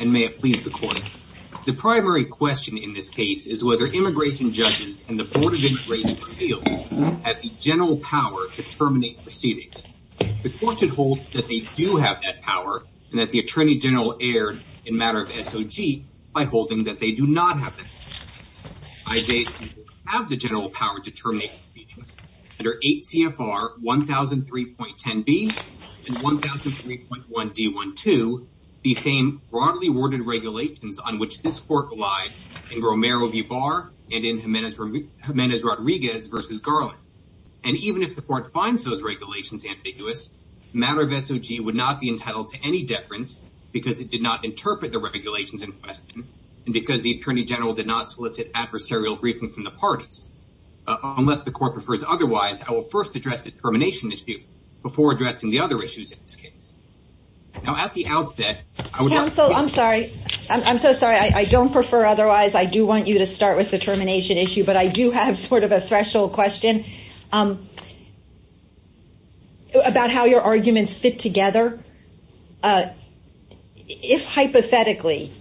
and may it please the court. The primary question in this case is whether immigration judges and the Board of Immigration Appeals have the general power to terminate proceedings. The court should hold that they do have that power and that the Attorney General erred in matter of SOG by holding that they do not have that power. I date have the general power to terminate proceedings under 8 CFR 1003.10b and 1003.1d12 the same broadly worded regulations on which this court relied in Romero v. Barr and in Jimenez Rodriguez v. Garland and even if the court finds those regulations ambiguous matter of SOG would not be entitled to any deference because it did not interpret the regulations in question and because the Attorney General did not solicit adversarial briefing from the parties. Unless the court prefers otherwise I will first address the termination issue before addressing the other issues in this case. Now at the outset I would counsel I'm sorry I'm so sorry I don't prefer otherwise I do want you to start with the termination issue but I do have sort of a threshold question about how your arguments fit together. If hypothetically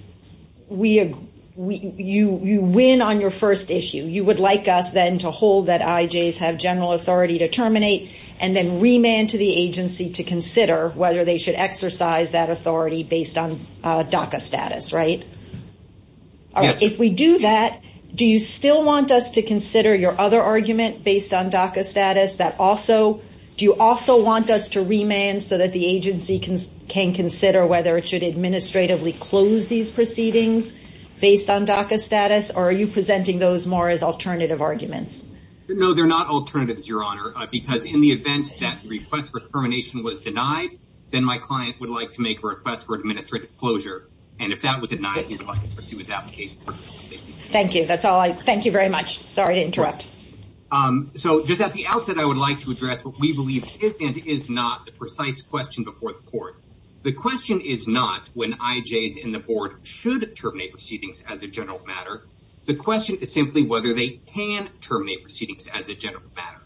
you win on your first issue you would like us then to hold that IJs have general authority to terminate and then remand to the agency to consider whether they should exercise that authority based on DACA status right? If we do that do you still want us to consider your other argument based on DACA status that also do you also want us to remand so that agency can can consider whether it should administratively close these proceedings based on DACA status or are you presenting those more as alternative arguments? No they're not alternatives your honor because in the event that the request for termination was denied then my client would like to make a request for administrative closure and if that was denied he would like to pursue his application. Thank you that's all I thank you very much sorry to interrupt. So just at the outset I would like to address what we believe is and is not the question before the court. The question is not when IJs and the board should terminate proceedings as a general matter the question is simply whether they can terminate proceedings as a general matter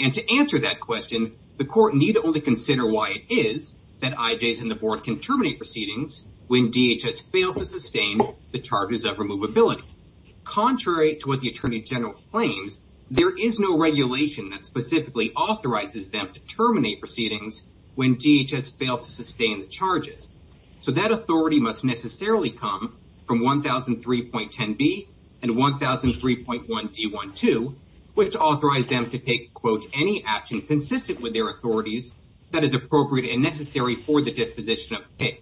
and to answer that question the court need only consider why it is that IJs and the board can terminate proceedings when DHS fails to sustain the charges of removability. Contrary to what the attorney general claims there is no regulation that specifically authorizes them to terminate proceedings when DHS fails to sustain the charges. So that authority must necessarily come from 1003.10b and 1003.1d12 which authorize them to take quote any action consistent with their authorities that is appropriate and necessary for the disposition of pay.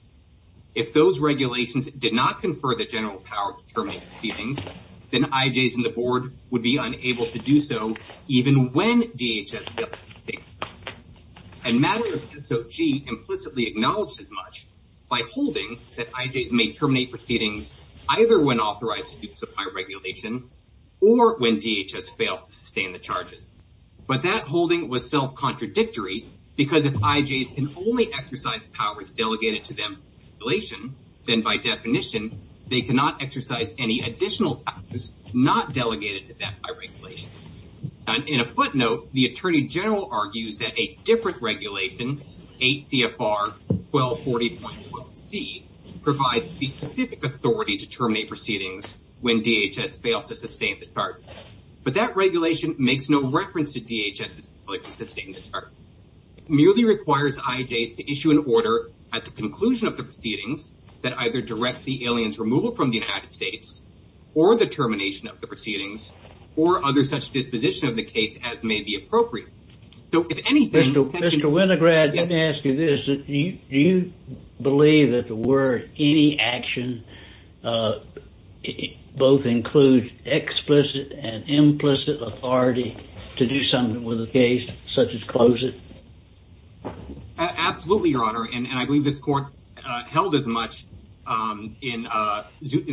If those regulations did not confer the general power to terminate proceedings then IJs and the board would be and matter of SOG implicitly acknowledged as much by holding that IJs may terminate proceedings either when authorized to supply regulation or when DHS fails to sustain the charges. But that holding was self-contradictory because if IJs can only exercise powers delegated to them by regulation then by definition they cannot exercise any additional powers not delegated to them by regulation. And in a footnote the attorney general argues that a different regulation 8 CFR 1240.12c provides the specific authority to terminate proceedings when DHS fails to sustain the charges. But that regulation makes no reference to DHS's ability to sustain the charges. It merely requires IJs to issue an order at the conclusion of the proceedings that either directs the aliens removal from the United States or the termination of the proceedings or other such disposition of the case as may be appropriate. So if anything... Mr. Winograd, let me ask you this. Do you believe that the word any action both includes explicit and implicit authority to do something with a case such as in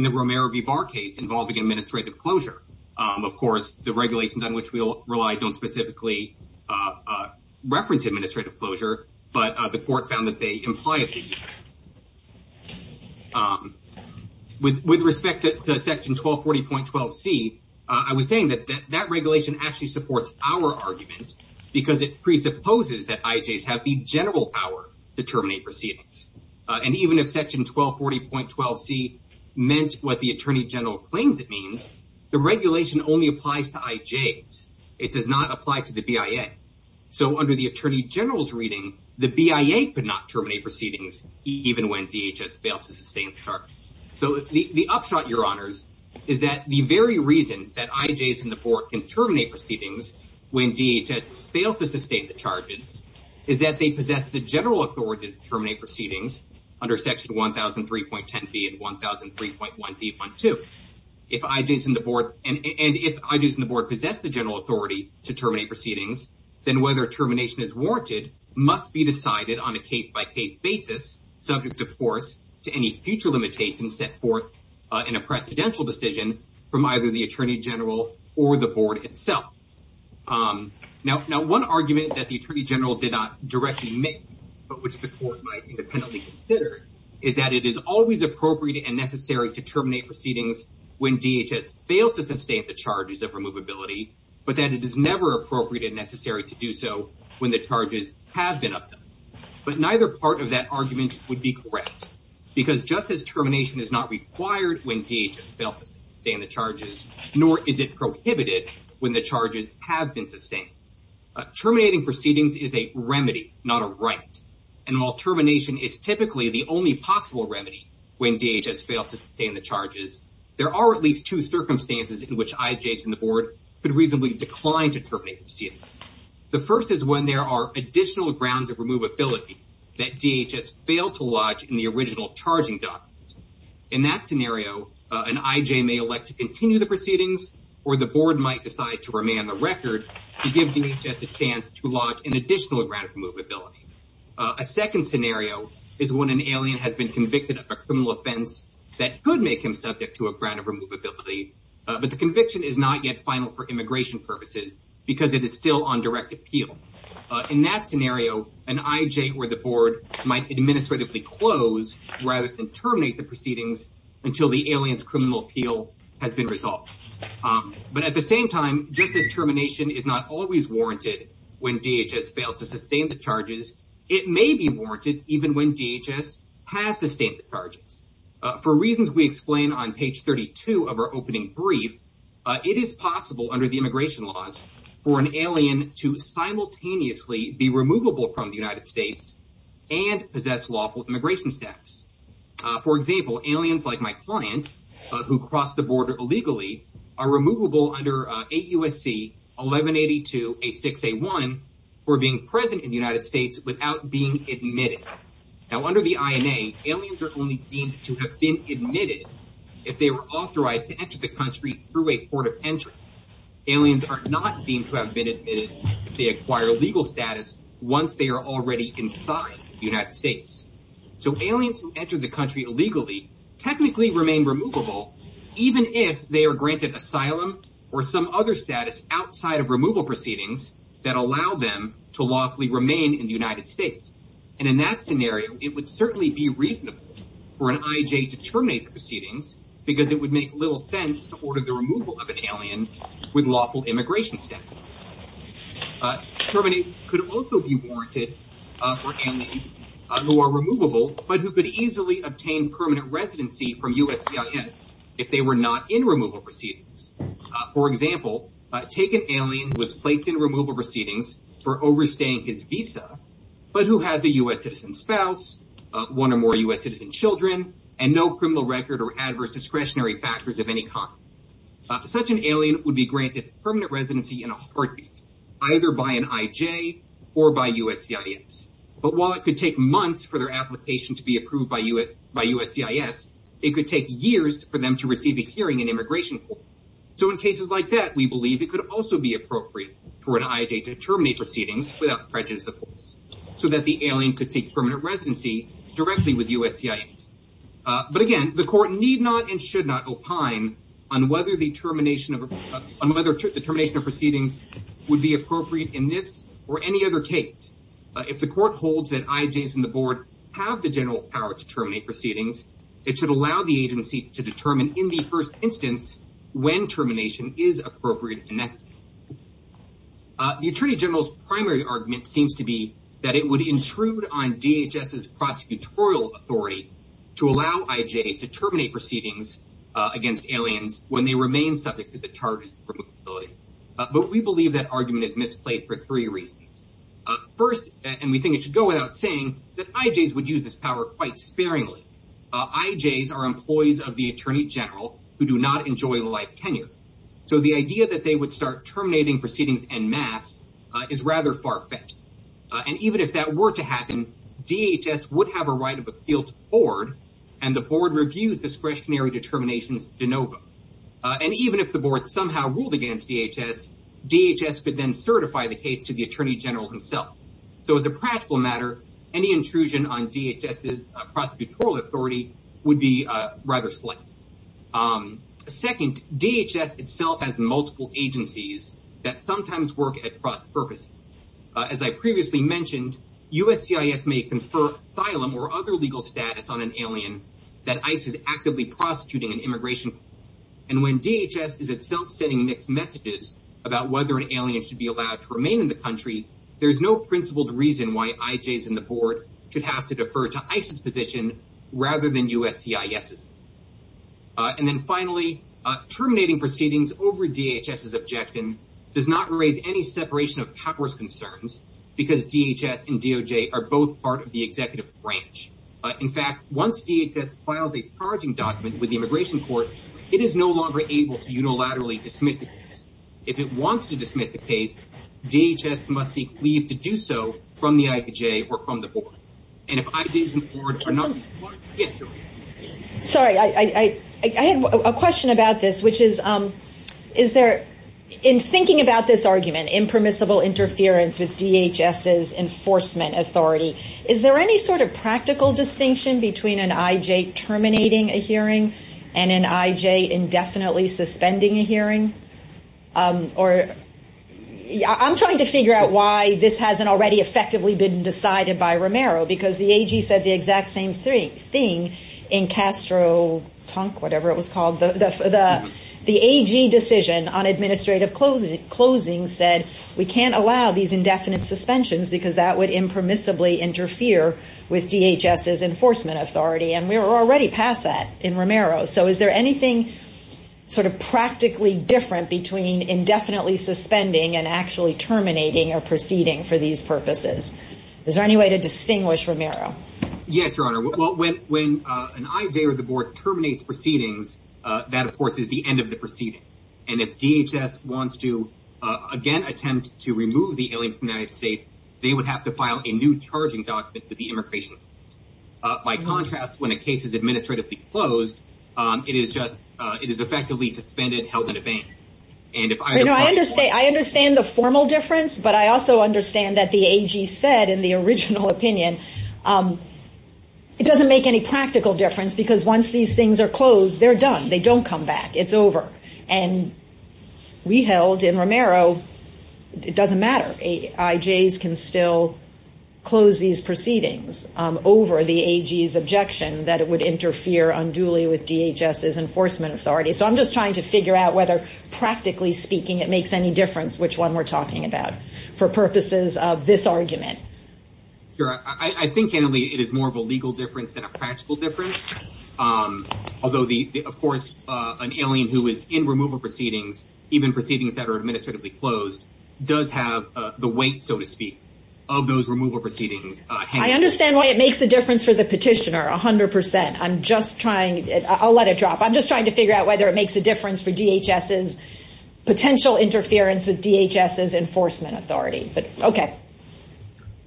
the Romero v. Barr case involving administrative closure? Of course the regulations on which we rely don't specifically reference administrative closure but the court found that they implied. With respect to section 1240.12c I was saying that that regulation actually supports our argument because it presupposes that IJs have the general power to terminate proceedings. And even if section 1240.12c meant what the attorney general claims it means, the regulation only applies to IJs. It does not apply to the BIA. So under the attorney general's reading the BIA could not terminate proceedings even when DHS failed to sustain the charges. So the upshot, your honors, is that the very reason that IJs in the board can terminate proceedings when DHS fails to sustain the charges is that they possess the general authority to terminate proceedings under section 1003.10b and 1003.1b.1.2. If IJs in the board possess the general authority to terminate proceedings then whether termination is warranted must be decided on a case-by-case basis subject of course to any future limitations set forth in a precedential decision from either the attorney general or the board itself. Now one argument that the attorney general did not directly make but which the court might independently consider is that it is always appropriate and necessary to terminate proceedings when DHS fails to sustain the charges of removability but that it is never appropriate and necessary to do so when the charges have been upped. But neither part of that argument would be correct because justice termination is not required when DHS fails to sustain the charges nor is it prohibited when the charges have been sustained. Terminating proceedings is a remedy not a right and while termination is typically the only possible remedy when DHS fails to sustain the charges there are at least two circumstances in which IJs in the board could reasonably decline to terminate proceedings. The first is when there are additional grounds of removability that DHS failed to lodge in the original charging document. In that scenario an IJ may elect to continue the proceedings or the board might decide to remain on the record to give DHS a chance to lodge an additional grant of removability. A second scenario is when an alien has been convicted of a criminal offense that could make him subject to a grant of removability but the conviction is not yet final for immigration purposes because it is still on direct appeal. In that scenario an IJ or the board might administratively close rather than terminate the proceedings until the alien's criminal appeal has been resolved. But at the same time justice termination is not always warranted when DHS fails to sustain the charges it may be warranted even when DHS has sustained the charges. For reasons we explain on page 32 of our opening brief it is possible under the immigration laws for an alien to simultaneously be removable from the United States and possess lawful immigration status. For example aliens like my client who crossed the border illegally are removable under AUSC 1182 A6 A1 for being present in the United States without being admitted. Now under the INA aliens are only deemed to have been admitted if they were authorized to have been admitted if they acquire legal status once they are already inside the United States. So aliens who enter the country illegally technically remain removable even if they are granted asylum or some other status outside of removal proceedings that allow them to lawfully remain in the United States. And in that scenario it would certainly be reasonable for an IJ to terminate the proceedings because it would make little sense to order the removal of an alien with lawful immigration status. Termination could also be warranted for aliens who are removable but who could easily obtain permanent residency from USCIS if they were not in removal proceedings. For example take an alien who was placed in removal proceedings for overstaying his visa but who has a U.S. citizen spouse one or more U.S. citizen children and no criminal record or adverse discretionary factors of any kind. Such an alien would be granted permanent residency in a heartbeat either by an IJ or by USCIS. But while it could take months for their application to be approved by USCIS it could take years for them to receive a hearing in immigration court. So in cases like that we believe it could also be appropriate for an IJ to terminate proceedings without prejudice of course so that the alien could seek permanent residency directly with USCIS. But again the court need not and should not opine on whether the termination of on whether the termination of proceedings would be appropriate in this or any other case. If the court holds that IJs and the board have the general power to terminate proceedings it should allow the agency to determine in the first instance when termination is appropriate and necessary. The attorney general's primary argument seems to be that it would intrude on DHS's prosecutorial authority to allow IJs to terminate proceedings against aliens when they remain subject to the charges of removability. But we believe that argument is misplaced for three reasons. First and we think it should go without saying that IJs would use this power quite sparingly. IJs are employees of the attorney general who do not enjoy life tenure. So the idea that they would start terminating proceedings en masse is rather far-fetched. And even if that were to happen DHS would have a right of appeal to the board and the board reviews discretionary determinations de novo. And even if the board somehow ruled against DHS, DHS could then certify the case to the attorney general himself. So as a practical matter any intrusion on DHS's prosecutorial authority would be rather slight. Second, DHS itself has multiple agencies that sometimes work at cross-purpose. As I previously mentioned USCIS may confer asylum or other legal status on an alien that ICE is actively prosecuting an immigration and when DHS is itself sending mixed messages about whether an alien should be allowed to remain in the country there's no principled reason why IJs and the board should have to defer to ICE's position rather than USCIS's. And then finally terminating proceedings over DHS's objection does not raise any separation of powers concerns because DHS and DOJ are both part of the executive branch. But in fact once DHS files a charging document with the immigration court it is no longer able to unilaterally dismiss the case. If it wants to dismiss the case DHS must seek leave to do so from the IJ or from the board. And if IJs and the board are not... Sorry I had a question about this which is is there in thinking about this argument impermissible interference with DHS's enforcement authority is there any sort of practical distinction between an IJ terminating a hearing and an IJ indefinitely suspending a hearing? Or I'm trying to figure out why this hasn't already effectively been decided by Romero because the AG said the exact same thing in Castro-Tonk, whatever it was called. The AG decision on administrative closing said we can't allow these indefinite suspensions because that would impermissibly interfere with DHS's enforcement authority and we were already past that in Romero. So is there anything sort of practically different between indefinitely suspending and actually terminating a proceeding for these purposes? Is there any way to distinguish Romero? Yes your honor. Well when an IJ or the board terminates proceedings that of course is the end of the proceeding and if DHS wants to again attempt to remove the alien from the United States they would have to file a new charging document with the immigration by contrast when a case is administratively closed it is just it is effectively suspended held in a bank. And if I know I understand I understand the formal difference but I also understand that the AG said in the original opinion it doesn't make any practical difference because once these things are closed they're done they don't come back it's over and we held in Romero it doesn't matter. IJs can still close these proceedings over the AG's objection that it would interfere unduly with DHS's enforcement authority. So I'm just trying to figure out whether practically speaking it makes any difference which one we're talking about for purposes of this argument. Sure I think Annalee it is more of a legal difference than a practical difference although the of course an alien who is in removal proceedings even proceedings that are administratively closed does have the weight so to speak of those removal proceedings. I understand why it makes a difference for the petitioner a hundred percent I'm just trying I'll let it drop I'm just trying to figure out whether it makes a difference for DHS's potential interference with DHS's enforcement authority but okay.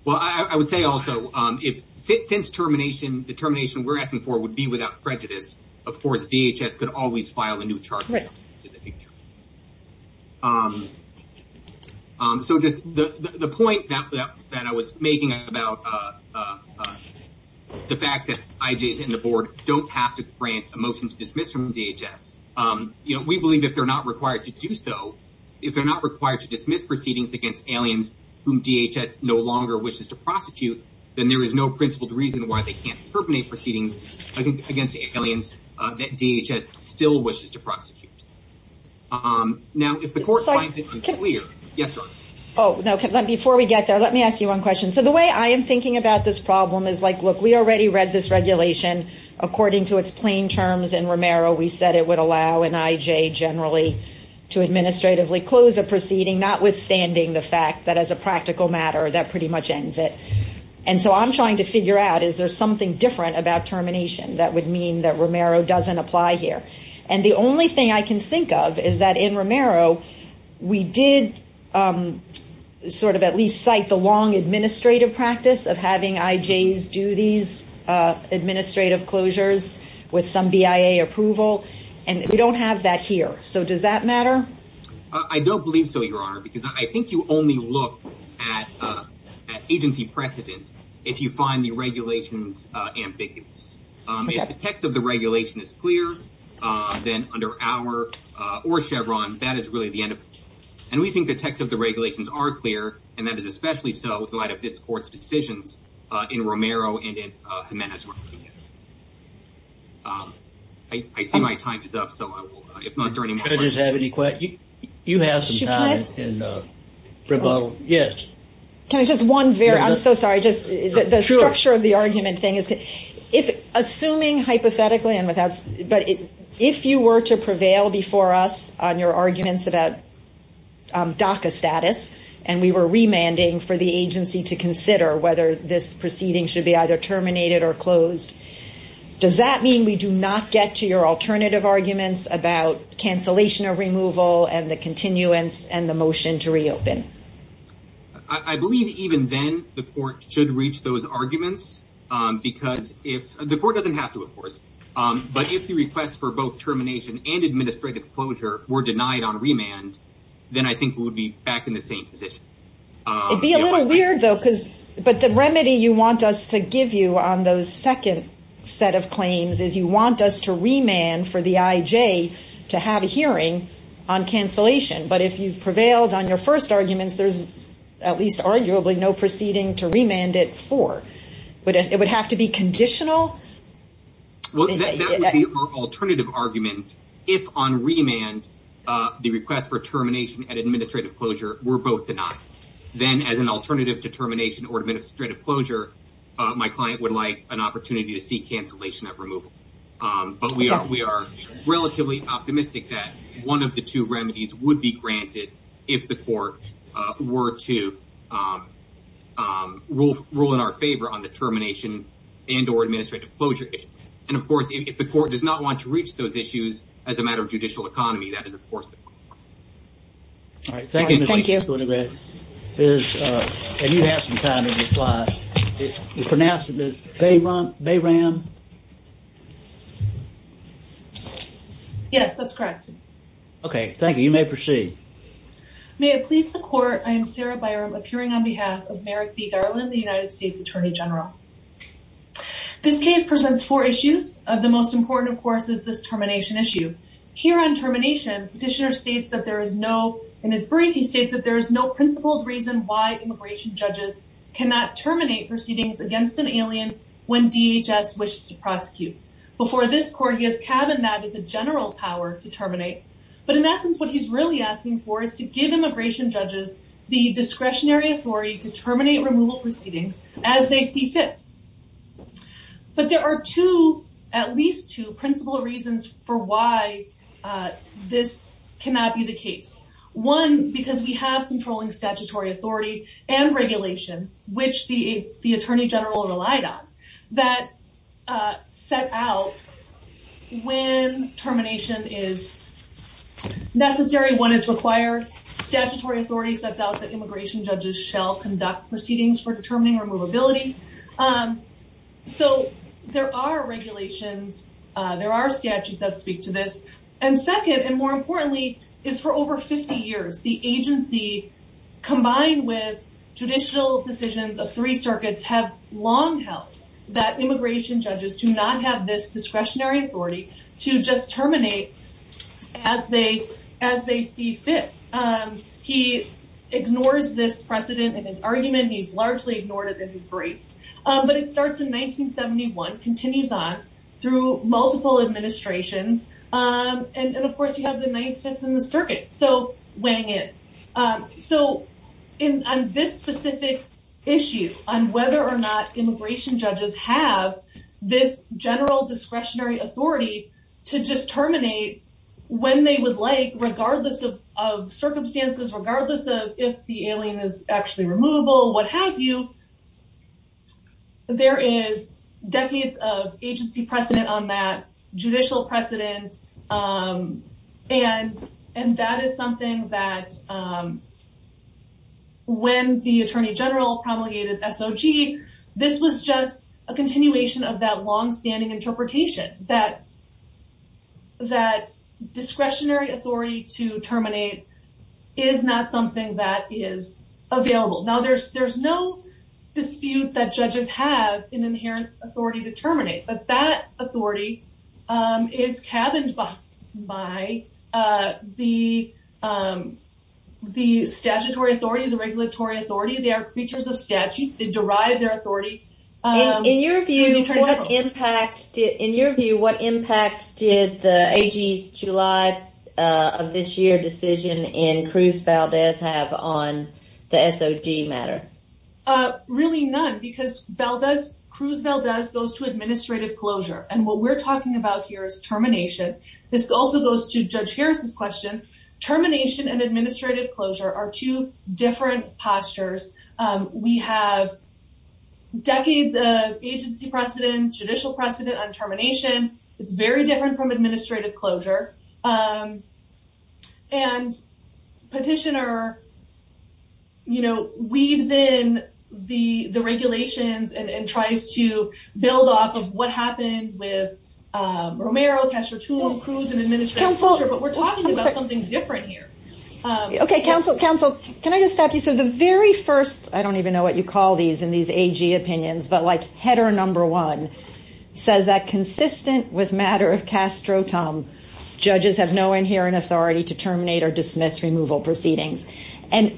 Well I would say also if since termination the termination we're asking for would be without prejudice of course DHS could always file a new charge. So just the the point that that I was making about the fact that IJs and the board don't have to grant a motion to dismiss from DHS you know we if they're not required to do so if they're not required to dismiss proceedings against aliens whom DHS no longer wishes to prosecute then there is no principled reason why they can't terminate proceedings against aliens that DHS still wishes to prosecute. Now if the court finds it unclear yes sir. Oh no before we get there let me ask you one question so the way I am thinking about this problem is like look we already read this regulation according to its plain terms in generally to administratively close a proceeding notwithstanding the fact that as a practical matter that pretty much ends it and so I'm trying to figure out is there something different about termination that would mean that Romero doesn't apply here and the only thing I can think of is that in Romero we did sort of at least cite the long administrative practice of having IJs do these administrative closures with some BIA approval and we don't have that here so does that matter? I don't believe so your honor because I think you only look at agency precedent if you find the regulations ambiguous. If the text of the regulation is clear then under our or Chevron that is really the end of it and we think the text of the regulations are clear and that is especially so in light of this court's decisions in Romero and in Jimenez-Rodriguez. I see my time is up so I will if not is there any more questions? You have some time. Can I just one very I'm so sorry just the structure of the argument thing is that if assuming hypothetically and without but if you were to prevail before us on your the agency to consider whether this proceeding should be either terminated or closed does that mean we do not get to your alternative arguments about cancellation of removal and the continuance and the motion to reopen? I believe even then the court should reach those arguments because if the court doesn't have to of course but if the request for both termination and administrative closure were denied on remand then I think we would be back in the same position. It'd be a little weird though because but the remedy you want us to give you on those second set of claims is you want us to remand for the IJ to have a hearing on cancellation but if you've prevailed on your first arguments there's at least arguably no proceeding to remand it for but it would have to be conditional? Well that would be our alternative argument if on remand the request for termination and administrative closure were both denied then as an alternative to termination or administrative closure my client would like an opportunity to see cancellation of removal but we are we are relatively optimistic that one of the two remedies would be granted if the court were to rule in our favor on the termination and or administrative closure issue and of course if the court does not want to reach those issues as a matter of judicial economy that is of course the point. All right thank you and you have some time in this slide pronounce it Bayram? Yes that's correct. Okay thank you you may proceed. May it please the court I am Sarah Byram appearing on behalf of Merrick B. Garland the United States Attorney General. This case presents four issues of the most important of course is this termination issue. Here on termination petitioner states that there is no in his brief he states that there is no principled reason why immigration judges cannot terminate proceedings against an alien when DHS wishes to prosecute. Before this court he has cabined that as a general power to terminate but in essence what he's really asking for is to give immigration judges the discretionary authority to terminate removal proceedings as they see fit. But there are two at least two principal reasons for why this cannot be the case. One because we have controlling statutory authority and regulations which the the Attorney General relied on that set out when termination is necessary when it's required statutory authority sets out that immigration judges shall conduct proceedings for determining removability. So there are regulations there are statutes that speak to this and second and more importantly is for over 50 years the agency combined with judicial decisions of three circuits have long held that immigration judges do not have this discretionary authority to just terminate as they as they see fit. He ignores this precedent in his argument he's largely ignored it in his brief but it starts in 1971 continues on through multiple administrations and of course you have the 95th in the circuit so wang it. So on this specific issue on whether or not immigration judges have this general discretionary authority to just terminate when they would like regardless of circumstances regardless of if the alien is actually removable what have you there is decades of agency precedent on that judicial precedence and and that is something that when the Attorney General promulgated SOG this was just a continuation of that long-standing interpretation that that discretionary authority to terminate is not something that is available now there's there's no dispute that judges have an inherent authority to terminate but that authority um is cabined by by uh the um the statutory authority the regulatory authority they are features of statute they derive their uh of this year decision in Cruz Valdez have on the SOG matter uh really none because Valdez Cruz Valdez goes to administrative closure and what we're talking about here is termination this also goes to Judge Harris's question termination and administrative closure are two different postures um we have decades of agency precedent judicial precedent on termination it's very different from administrative closure um and petitioner you know weaves in the the regulations and and tries to build off of what happened with um Romero Castro tool Cruz and administrative but we're talking about something different here um okay counsel counsel can I just stop you so the very first I don't even know what you call these in these AG opinions but header number one says that consistent with matter of Castro Tom judges have no inherent authority to terminate or dismiss removal proceedings and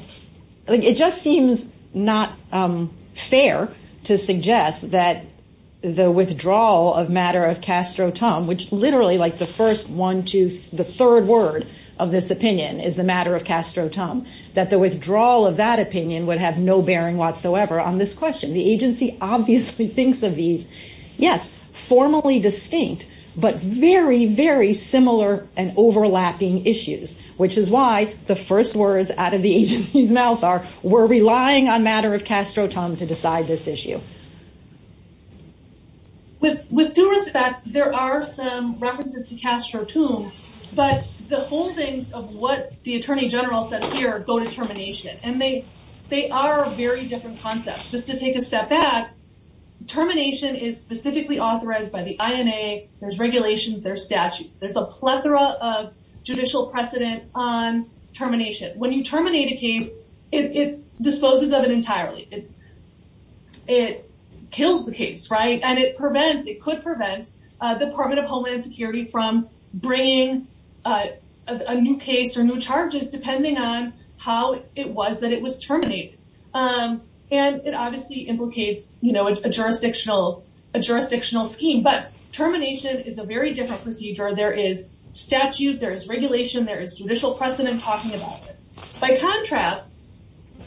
it just seems not um fair to suggest that the withdrawal of matter of Castro Tom which literally like the first one to the third word of this opinion is the matter of Castro Tom that the withdrawal of that opinion would have no bearing whatsoever on this question the agency obviously thinks of these yes formally distinct but very very similar and overlapping issues which is why the first words out of the agency's mouth are we're relying on matter of Castro Tom to decide this issue with with due respect there are some references to Castro Tom but the whole things of what the attorney general said here go to termination and they they are very different concepts just to take a step back termination is specifically authorized by the INA there's regulations there's statutes there's a plethora of judicial precedent on termination when you terminate a case it disposes of it entirely it kills the case right and it prevents it could prevent uh department of homeland security from bringing a new case or new charges depending on how it was that it was terminated um and it obviously implicates you know a jurisdictional a jurisdictional scheme but termination is a very different procedure there is statute there is regulation there is judicial precedent talking about it by contrast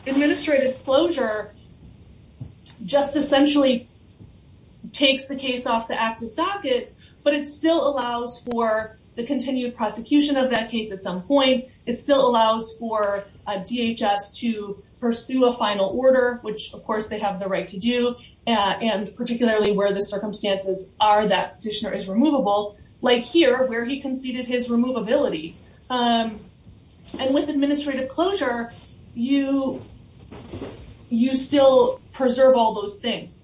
administrative closure just essentially takes the case off the active docket but it still allows for the continued prosecution of that case at some point it still allows for DHS to pursue a final order which of course they have the right to do and particularly where the circumstances are that petitioner is removable like here where he conceded his removability and with administrative closure you you still preserve all those things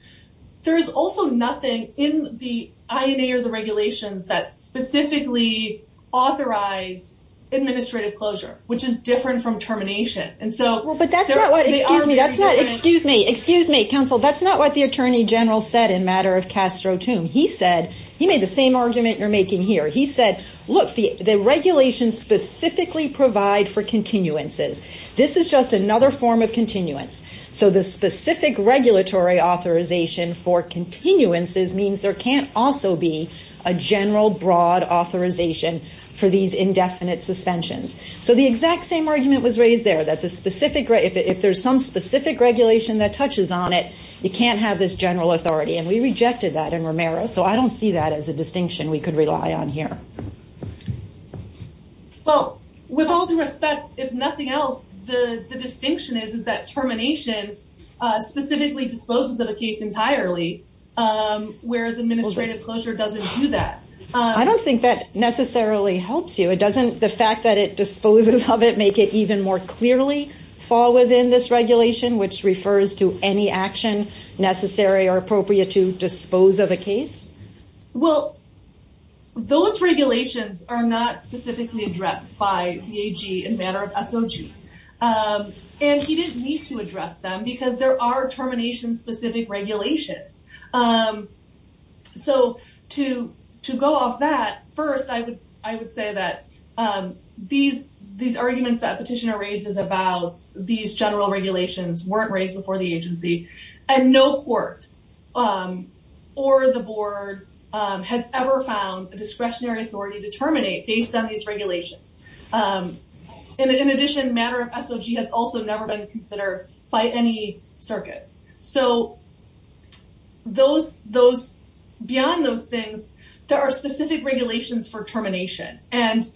there is also nothing in the INA or the regulations that specifically authorize administrative closure which is different from termination and so well but that's not what excuse me that's not excuse me excuse me counsel that's not what the attorney general said in matter of Castro tomb he said he made the same argument you're making here he said look the the regulations specifically provide for continuances this is just another form of continuance so the specific regulatory authorization for continuances means there can't also be a general broad authorization for these indefinite suspensions so the exact same argument was raised there that the specific if there's some specific regulation that touches on it you can't have this general authority and we rejected that in Romero so I don't see that as a distinction we could rely on here well with all due respect if nothing else the the distinction is is that termination specifically disposes of a case entirely whereas administrative closure doesn't do that I don't think that necessarily helps you it doesn't the fact that it disposes of it make it even more clearly fall within this regulation which refers to any action necessary or appropriate to dispose of a case well those regulations are not specifically addressed by PAG in matter of SOG and he didn't need to address them because there are termination specific regulations so to to go off that first I would I would say that these these arguments that petitioner raises about these general regulations weren't raised before the agency and no court or the board has ever found a discretionary authority to terminate based on these regulations and in addition matter of SOG has also never been considered by any circuit so those those beyond those things there are specific regulations for termination and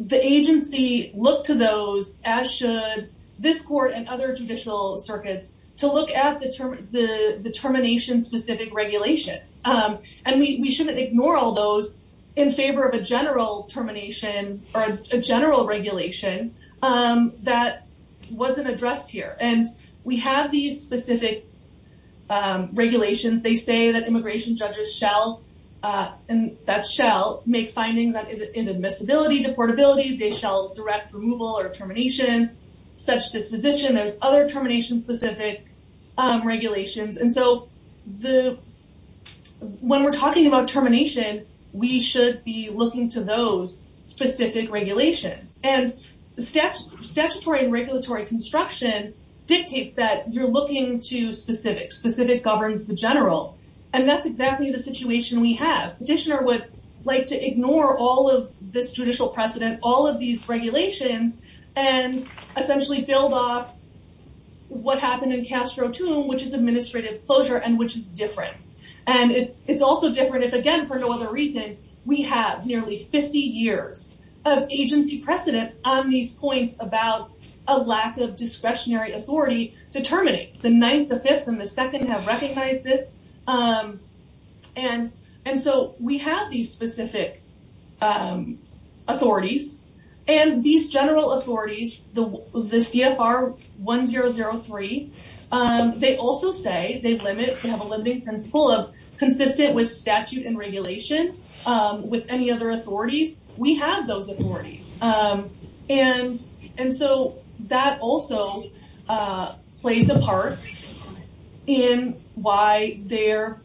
the agency looked to those as should this court and other judicial circuits to look at the term the the termination specific regulations and we shouldn't ignore all those in favor of a general termination or a general regulation that wasn't addressed here and we have these specific regulations they say that immigration judges shall and that shall make findings on inadmissibility deportability they shall direct removal or termination such disposition there's other termination specific regulations and so the when we're talking about termination we should be looking to those specific regulations and the statutory and regulatory construction dictates that you're looking to specific specific governs the general and that's exactly the situation we have petitioner would like to ignore all of this judicial precedent all of these regulations and essentially build off what happened in castro tomb which is administrative closure and which is different and it it's also different if again for no other reason we have nearly 50 years of agency precedent on these points about a lack of discretionary authority to terminate the ninth the fifth and the second have recognized this and and so we have these specific authorities and these general authorities the the cfr 1003 they also say they limit they have a limiting principle of consistent with statute and regulation with any other authorities we have those authorities and and so that also plays a part in why there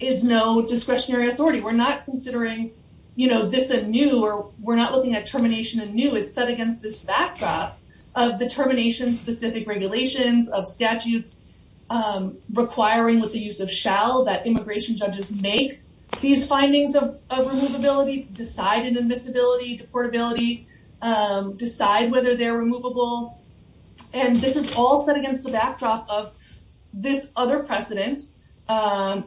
is no discretionary we're not considering you know this a new or we're not looking at termination and new it's set against this backdrop of the termination specific regulations of statutes requiring with the use of shall that immigration judges make these findings of of removability decided admissibility deportability decide whether they're removable and this is all set against the backdrop of this other precedent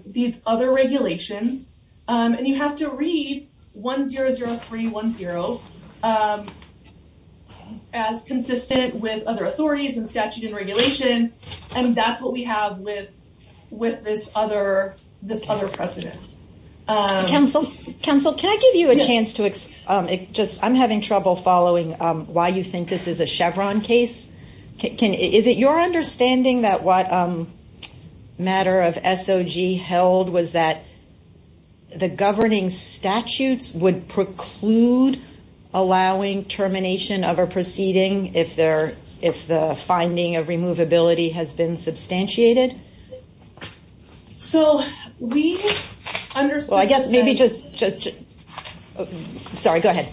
these other regulations and you have to read 100310 as consistent with other authorities and statute and regulation and that's what we have with with this other this other precedent council council can i give you a chance to um it just i'm having trouble following um why you think this is a chevron case can is it your understanding that what um matter of sog held was that the governing statutes would preclude allowing termination of a proceeding if they're if the finding of removability has been substantiated so we understood i guess maybe just just sorry go ahead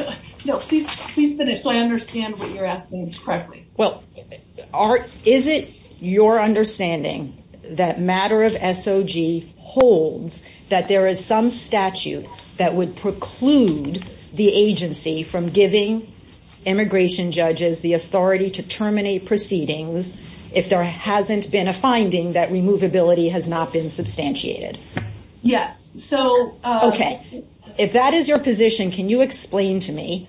no no please please finish so i understand what you're asking correctly well art is it your understanding that matter of sog holds that there is some statute that would preclude the agency from giving immigration judges the authority to terminate proceedings if there hasn't been a finding that removability has not been substantiated yes so okay if that is your position can you explain to me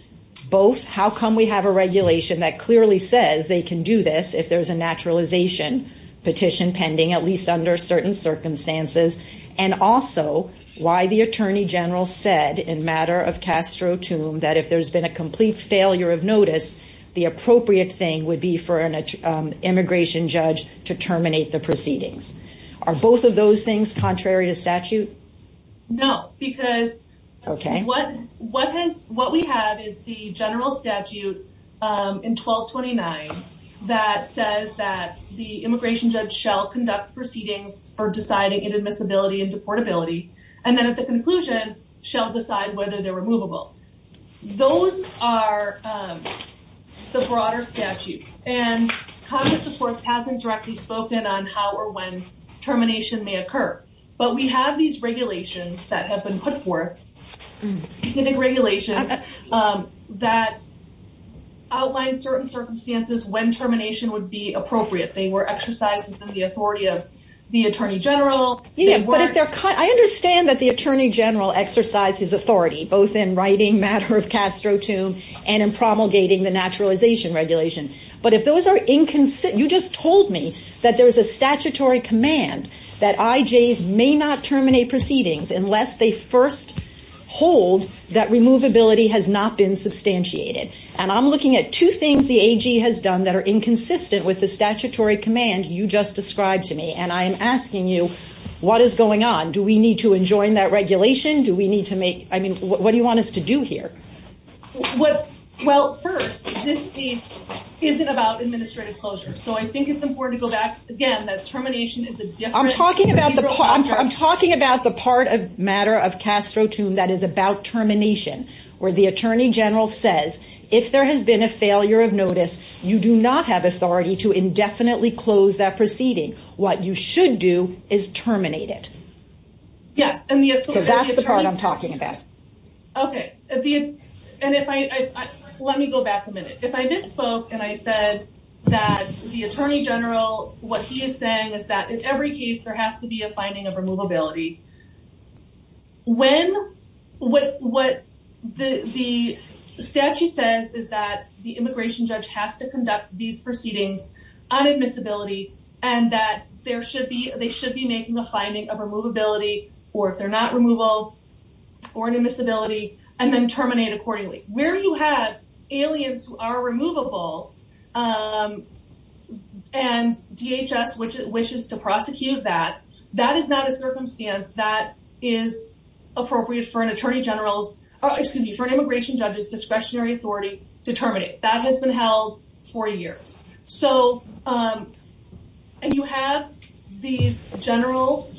both how come we have a regulation that clearly says they can do this if there's a naturalization petition pending at least under certain circumstances and also why the attorney general said in matter of castro tomb that if there's been a complete failure of notice the appropriate thing would be for an immigration judge to terminate the proceedings are both of those things contrary to statute no because okay what what has what we have is the general statute um in 1229 that says that the immigration judge shall conduct proceedings for deciding inadmissibility and deportability and then at the conclusion shall decide whether they're removable those are um the broader statutes and congress supports hasn't directly spoken on how or when termination may occur but we have these regulations that have been put forth specific regulations um that outline certain circumstances when termination would be appropriate they were exercised within the authority of the attorney general yeah but if they're cut i understand that the attorney general exercise his authority both in writing matter of castro tomb and in promulgating the naturalization regulation but if those are inconsistent you just told me that there's a statutory command that ij's may not terminate proceedings unless they first hold that removability has not been substantiated and i'm looking at two things the ag has done that are inconsistent with the statutory command you just described to me and i am asking you what is going on do we need to enjoin that regulation do we need to make i mean what do you want us to do here what well first this piece isn't about administrative closure so i think it's important to go back again that termination is a different i'm talking about the i'm talking about the part of matter of castro tomb that is about termination where the attorney general says if there has been a failure of notice you do not have authority to indefinitely close that proceeding what you should do is terminate it yes and that's the part i'm talking about okay and if i let me go back a minute if i misspoke and i said that the attorney general what he is saying is that in every case there has to be a finding of removability when what what the the statute says is that the immigration judge has to conduct these proceedings on admissibility and that there should be they should be making a finding of removability or if they're not removal or an admissibility and then terminate accordingly where you have aliens who are removable um and dhs which wishes to prosecute that that is not a circumstance that is appropriate for an attorney general's excuse me for an immigration judge's discretionary authority to terminate that has been held for years so um and you have these general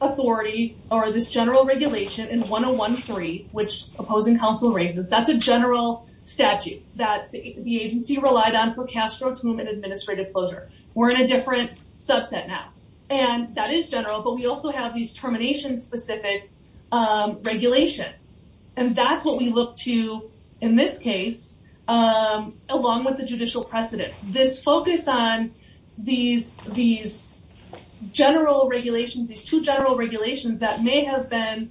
authority or this general regulation in 1013 which opposing counsel raises that's a general statute that the agency relied on for castro tomb and administrative closure we're in a different subset now and that is general but we also have these termination specific um regulations and that's what we look to in this case um along with the judicial precedent this focus on these these general regulations these two general regulations that may have been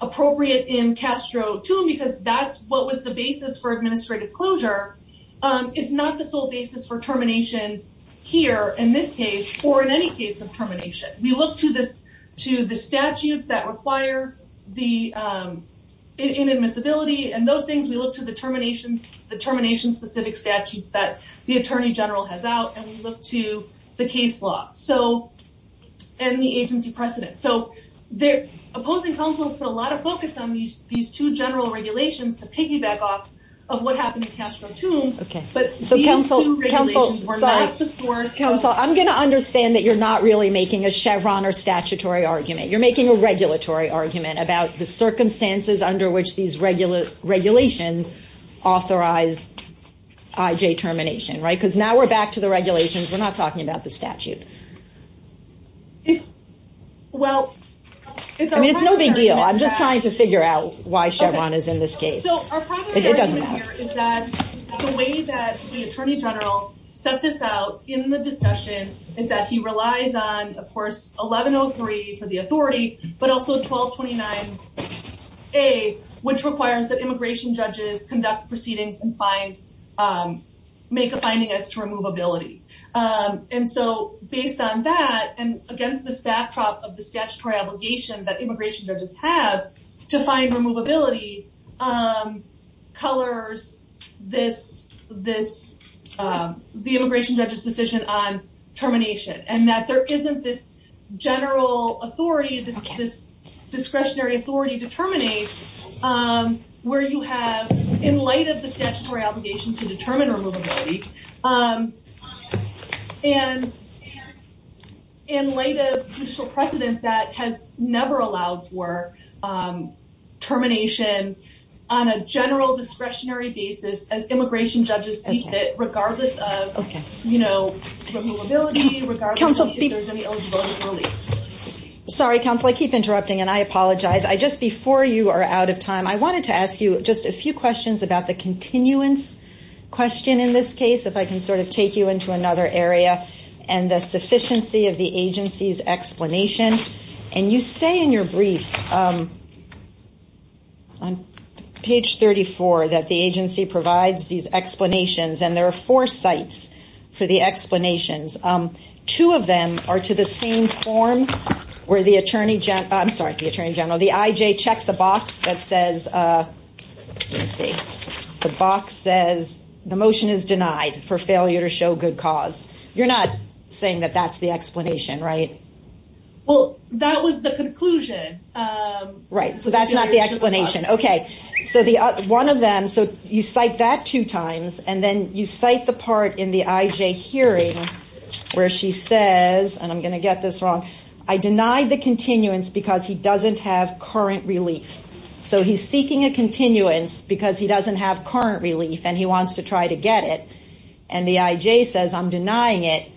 appropriate in castro tomb because that's what was the basis for administrative closure um is not the sole basis for termination here in this case or in any case of termination we look to this to the statutes that require the um inadmissibility and those things we look to the termination specific statutes that the attorney general has out and we look to the case law so and the agency precedent so they're opposing counsel's put a lot of focus on these these two general regulations to piggyback off of what happened in castro tomb okay but so counsel i'm going to understand that you're not really making a chevron or statutory argument you're making a regulatory argument about the circumstances under which these regular regulations authorize ij termination right because now we're back to the regulations we're not talking about the statute if well it's i mean it's no big deal i'm just trying to figure out why chevron is in this case so it doesn't matter is that the way that the attorney general set this out in the discussion is that he relies on of course 1103 for the authority but also 1229 a which requires that immigration judges conduct proceedings and find um make a finding as to removability um and so based on that and against this backdrop of the statutory obligation that immigration judges have to find removability um colors this this um the immigration judge's decision on termination and that there isn't this general authority this discretionary authority to where you have in light of the statutory obligation to determine removability um and in light of judicial precedent that has never allowed for um termination on a general discretionary basis as immigration judges seek it regardless of okay you know sorry counsel i keep interrupting and i apologize i just before you are out of time i wanted to just a few questions about the continuance question in this case if i can sort of take you into another area and the sufficiency of the agency's explanation and you say in your brief um on page 34 that the agency provides these explanations and there are four sites for the explanations um two of them are to the same form where the attorney gen i'm sorry the ij checks a box that says uh let me see the box says the motion is denied for failure to show good cause you're not saying that that's the explanation right well that was the conclusion um right so that's not the explanation okay so the one of them so you cite that two times and then you cite the part in the ij hearing where she says and i'm gonna get this wrong i deny the continuance because he doesn't have current relief so he's seeking a continuance because he doesn't have current relief and he wants to try to get it and the ij says i'm denying it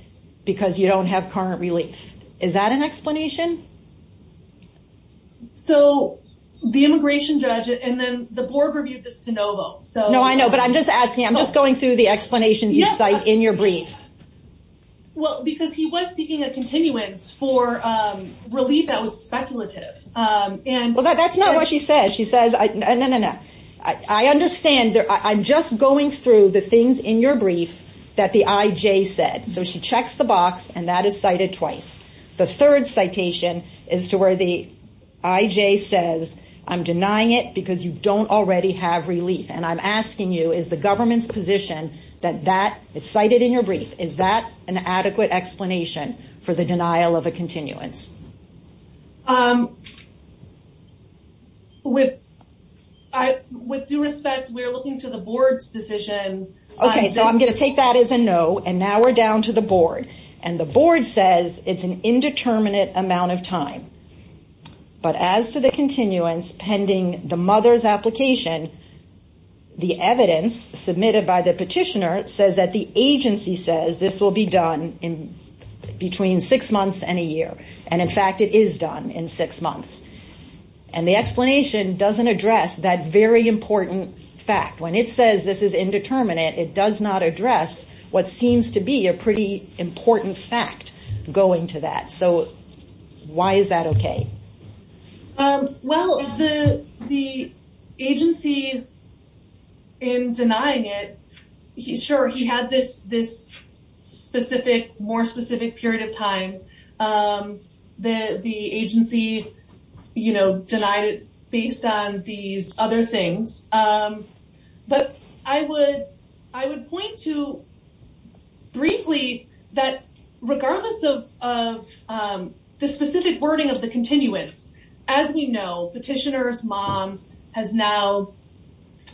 because you don't have current relief is that an explanation so the immigration judge and then the board reviewed this to novo so no i know but i'm just asking i'm just going through the explanations you cite in your brief well because he was seeking a continuance for um relief that was speculative um and well that's not what she says she says i no no no i i understand that i'm just going through the things in your brief that the ij said so she checks the box and that is cited twice the third citation is to where the ij says i'm denying it because you don't already have relief and i'm asking you is the is that an adequate explanation for the denial of a continuance um with i with due respect we're looking to the board's decision okay so i'm going to take that as a no and now we're down to the board and the board says it's an indeterminate amount of time but as to the continuance pending the mother's application the evidence submitted by the this will be done in between six months and a year and in fact it is done in six months and the explanation doesn't address that very important fact when it says this is indeterminate it does not address what seems to be a pretty important fact going to that so why is that okay um well the the agency in denying it he's sure he had this this specific more specific period of time um the the agency you know denied it based on these other things um but i would i would point to briefly that regardless of of um the specific wording of the continuance as we know petitioner's mom has now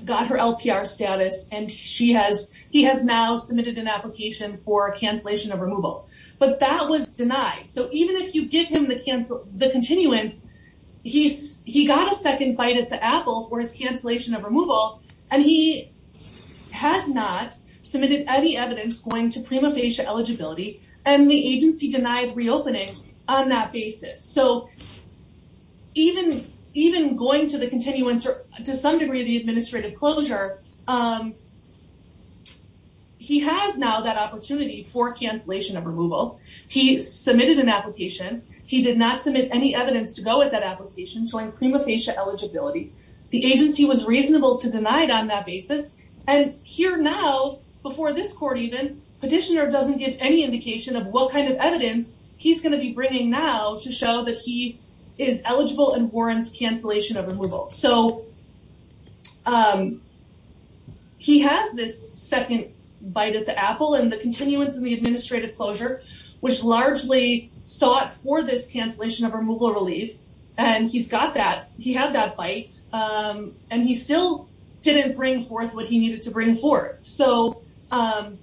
got her lpr status and she has he has now submitted an application for a cancellation of removal but that was denied so even if you give him the cancel the continuance he's he got a second bite at the apple for his cancellation of removal and he has not submitted any evidence going to prima facie eligibility and the agency denied reopening on that basis so even even going to the continuance or to some degree the administrative closure um he has now that opportunity for cancellation of removal he submitted an application he did not submit any evidence to go with that application showing prima facie eligibility the agency was petitioner doesn't give any indication of what kind of evidence he's going to be bringing now to show that he is eligible and warrants cancellation of removal so um he has this second bite at the apple and the continuance in the administrative closure which largely sought for this cancellation of removal relief and he's got that he had that bite um and he still didn't bring forth what he needed to bring forth so um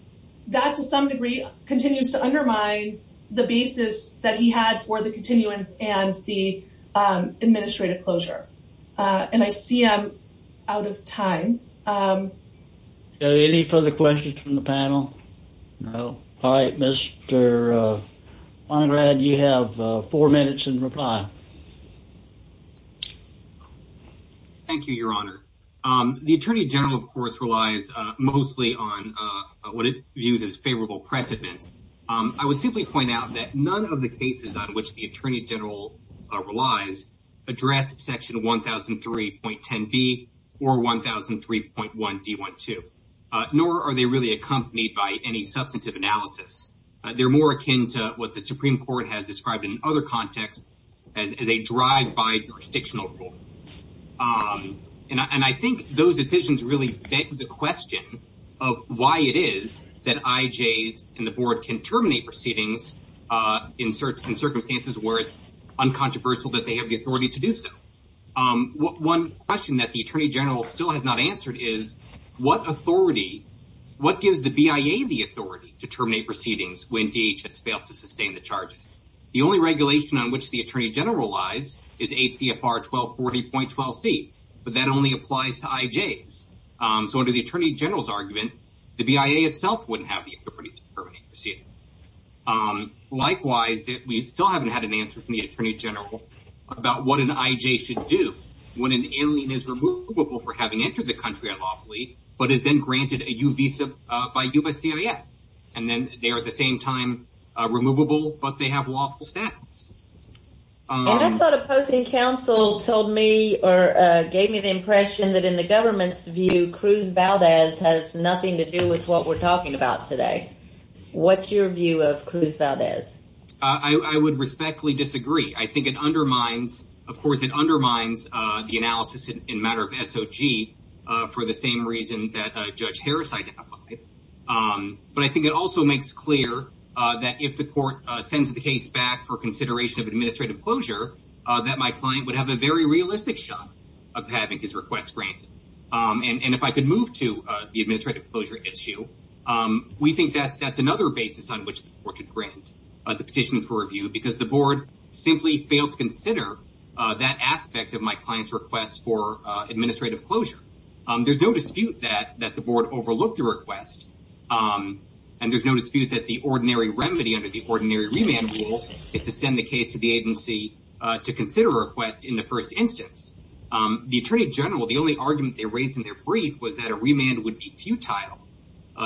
that to some degree continues to undermine the basis that he had for the continuance and the um administrative closure uh and i see i'm out of time um any further questions from the panel no all right mr uh you have uh four minutes in reply thank you your honor um the attorney general of course relies uh mostly on uh what it views as favorable precedent um i would simply point out that none of the cases on which the attorney general uh relies address section 1003.10b or 1003.1d12 uh nor are they really accompanied by any substantive analysis they're more akin to what the supreme court has described in other contexts as a drive by jurisdictional rule um and i think those decisions really beg the question of why it is that ij's and the board can terminate proceedings uh in search in circumstances where it's uncontroversial that they have the authority to do so um one question that the attorney general still has not answered is what authority what gives the bia the authority to terminate proceedings when dhs fails to sustain the charges the only regulation on which the attorney general lies is atfr 1240.12c but that only applies to ij's um so under the attorney general's argument the bia itself wouldn't have the authority to terminate proceedings um likewise that we still haven't had an answer from the attorney general about what an ij should do when an alien is for having entered the country unlawfully but has been granted a u visa uh by uscis and then they are at the same time uh removable but they have lawful status um i thought opposing council told me or uh gave me the impression that in the government's view cruz valdez has nothing to do with what we're talking about today what's your view of cruz valdez i i would respectfully disagree i think it undermines of course it undermines uh the matter of sog uh for the same reason that uh judge harris identified um but i think it also makes clear uh that if the court uh sends the case back for consideration of administrative closure uh that my client would have a very realistic shot of having his requests granted um and and if i could move to uh the administrative closure issue um we think that that's another basis on which the court should grant uh the petition for review because the board simply failed to consider uh that aspect of my client's requests for uh administrative closure um there's no dispute that that the board overlooked the request um and there's no dispute that the ordinary remedy under the ordinary remand rule is to send the case to the agency uh to consider a request in the first instance um the attorney general the only argument they raised in their brief was that a remand would be futile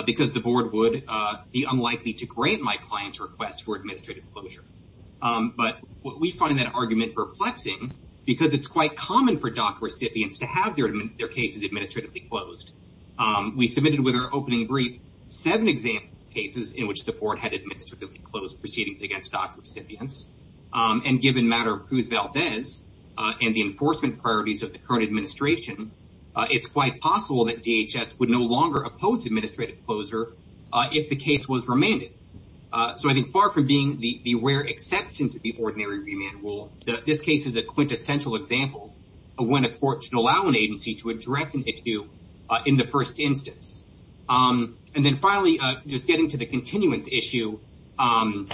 because the board would uh be unlikely to grant my client's request for administrative closure um but we find that argument perplexing because it's quite common for doc recipients to have their their cases administratively closed um we submitted with our opening brief seven example cases in which the board had administratively closed proceedings against doc recipients and given matter of Cruz Valdez and the enforcement priorities of the current administration it's quite possible that dhs would no longer oppose administrative closure uh if the case was remanded uh so i think far from being the the rare exception to the ordinary remand rule that this case is a quintessential example of when a court should allow an agency to address an issue uh in the first instance um and then finally uh just getting to the continuance issue um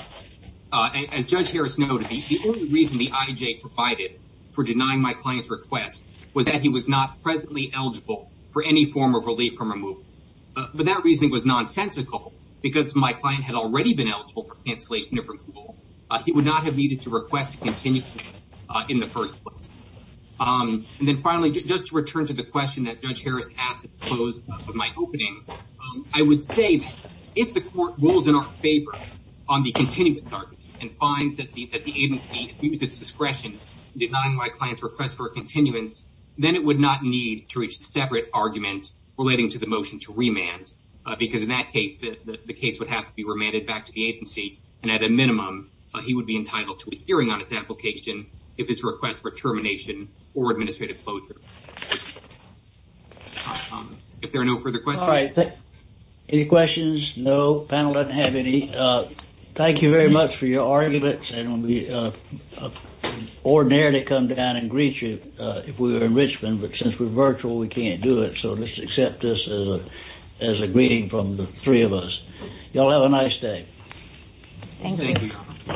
uh as judge harris noted the only reason the ij provided for denying my client's request was that he was not presently eligible for any form of relief from removal but that reasoning was nonsensical because my client had already been eligible for cancellation of removal he would not have needed to request to continue uh in the first place um and then finally just to return to the question that judge harris asked to close with my opening i would say that if the court rules in our favor on the continuance argument and finds that the that the agency abused its discretion denying my client's request for a continuance then it would not need to reach separate argument relating to the motion to remand because in that case the case would have to be remanded back to the agency and at a minimum he would be entitled to a hearing on his application if it's a request for termination or administrative closure if there are no further questions all right any questions no panel doesn't have any uh thank you very much for your arguments and we uh ordinarily come down and greet you if we were in richmond but since we're virtual we can't do it so let's accept this as a as a greeting from the three of us y'all have a nice day thank you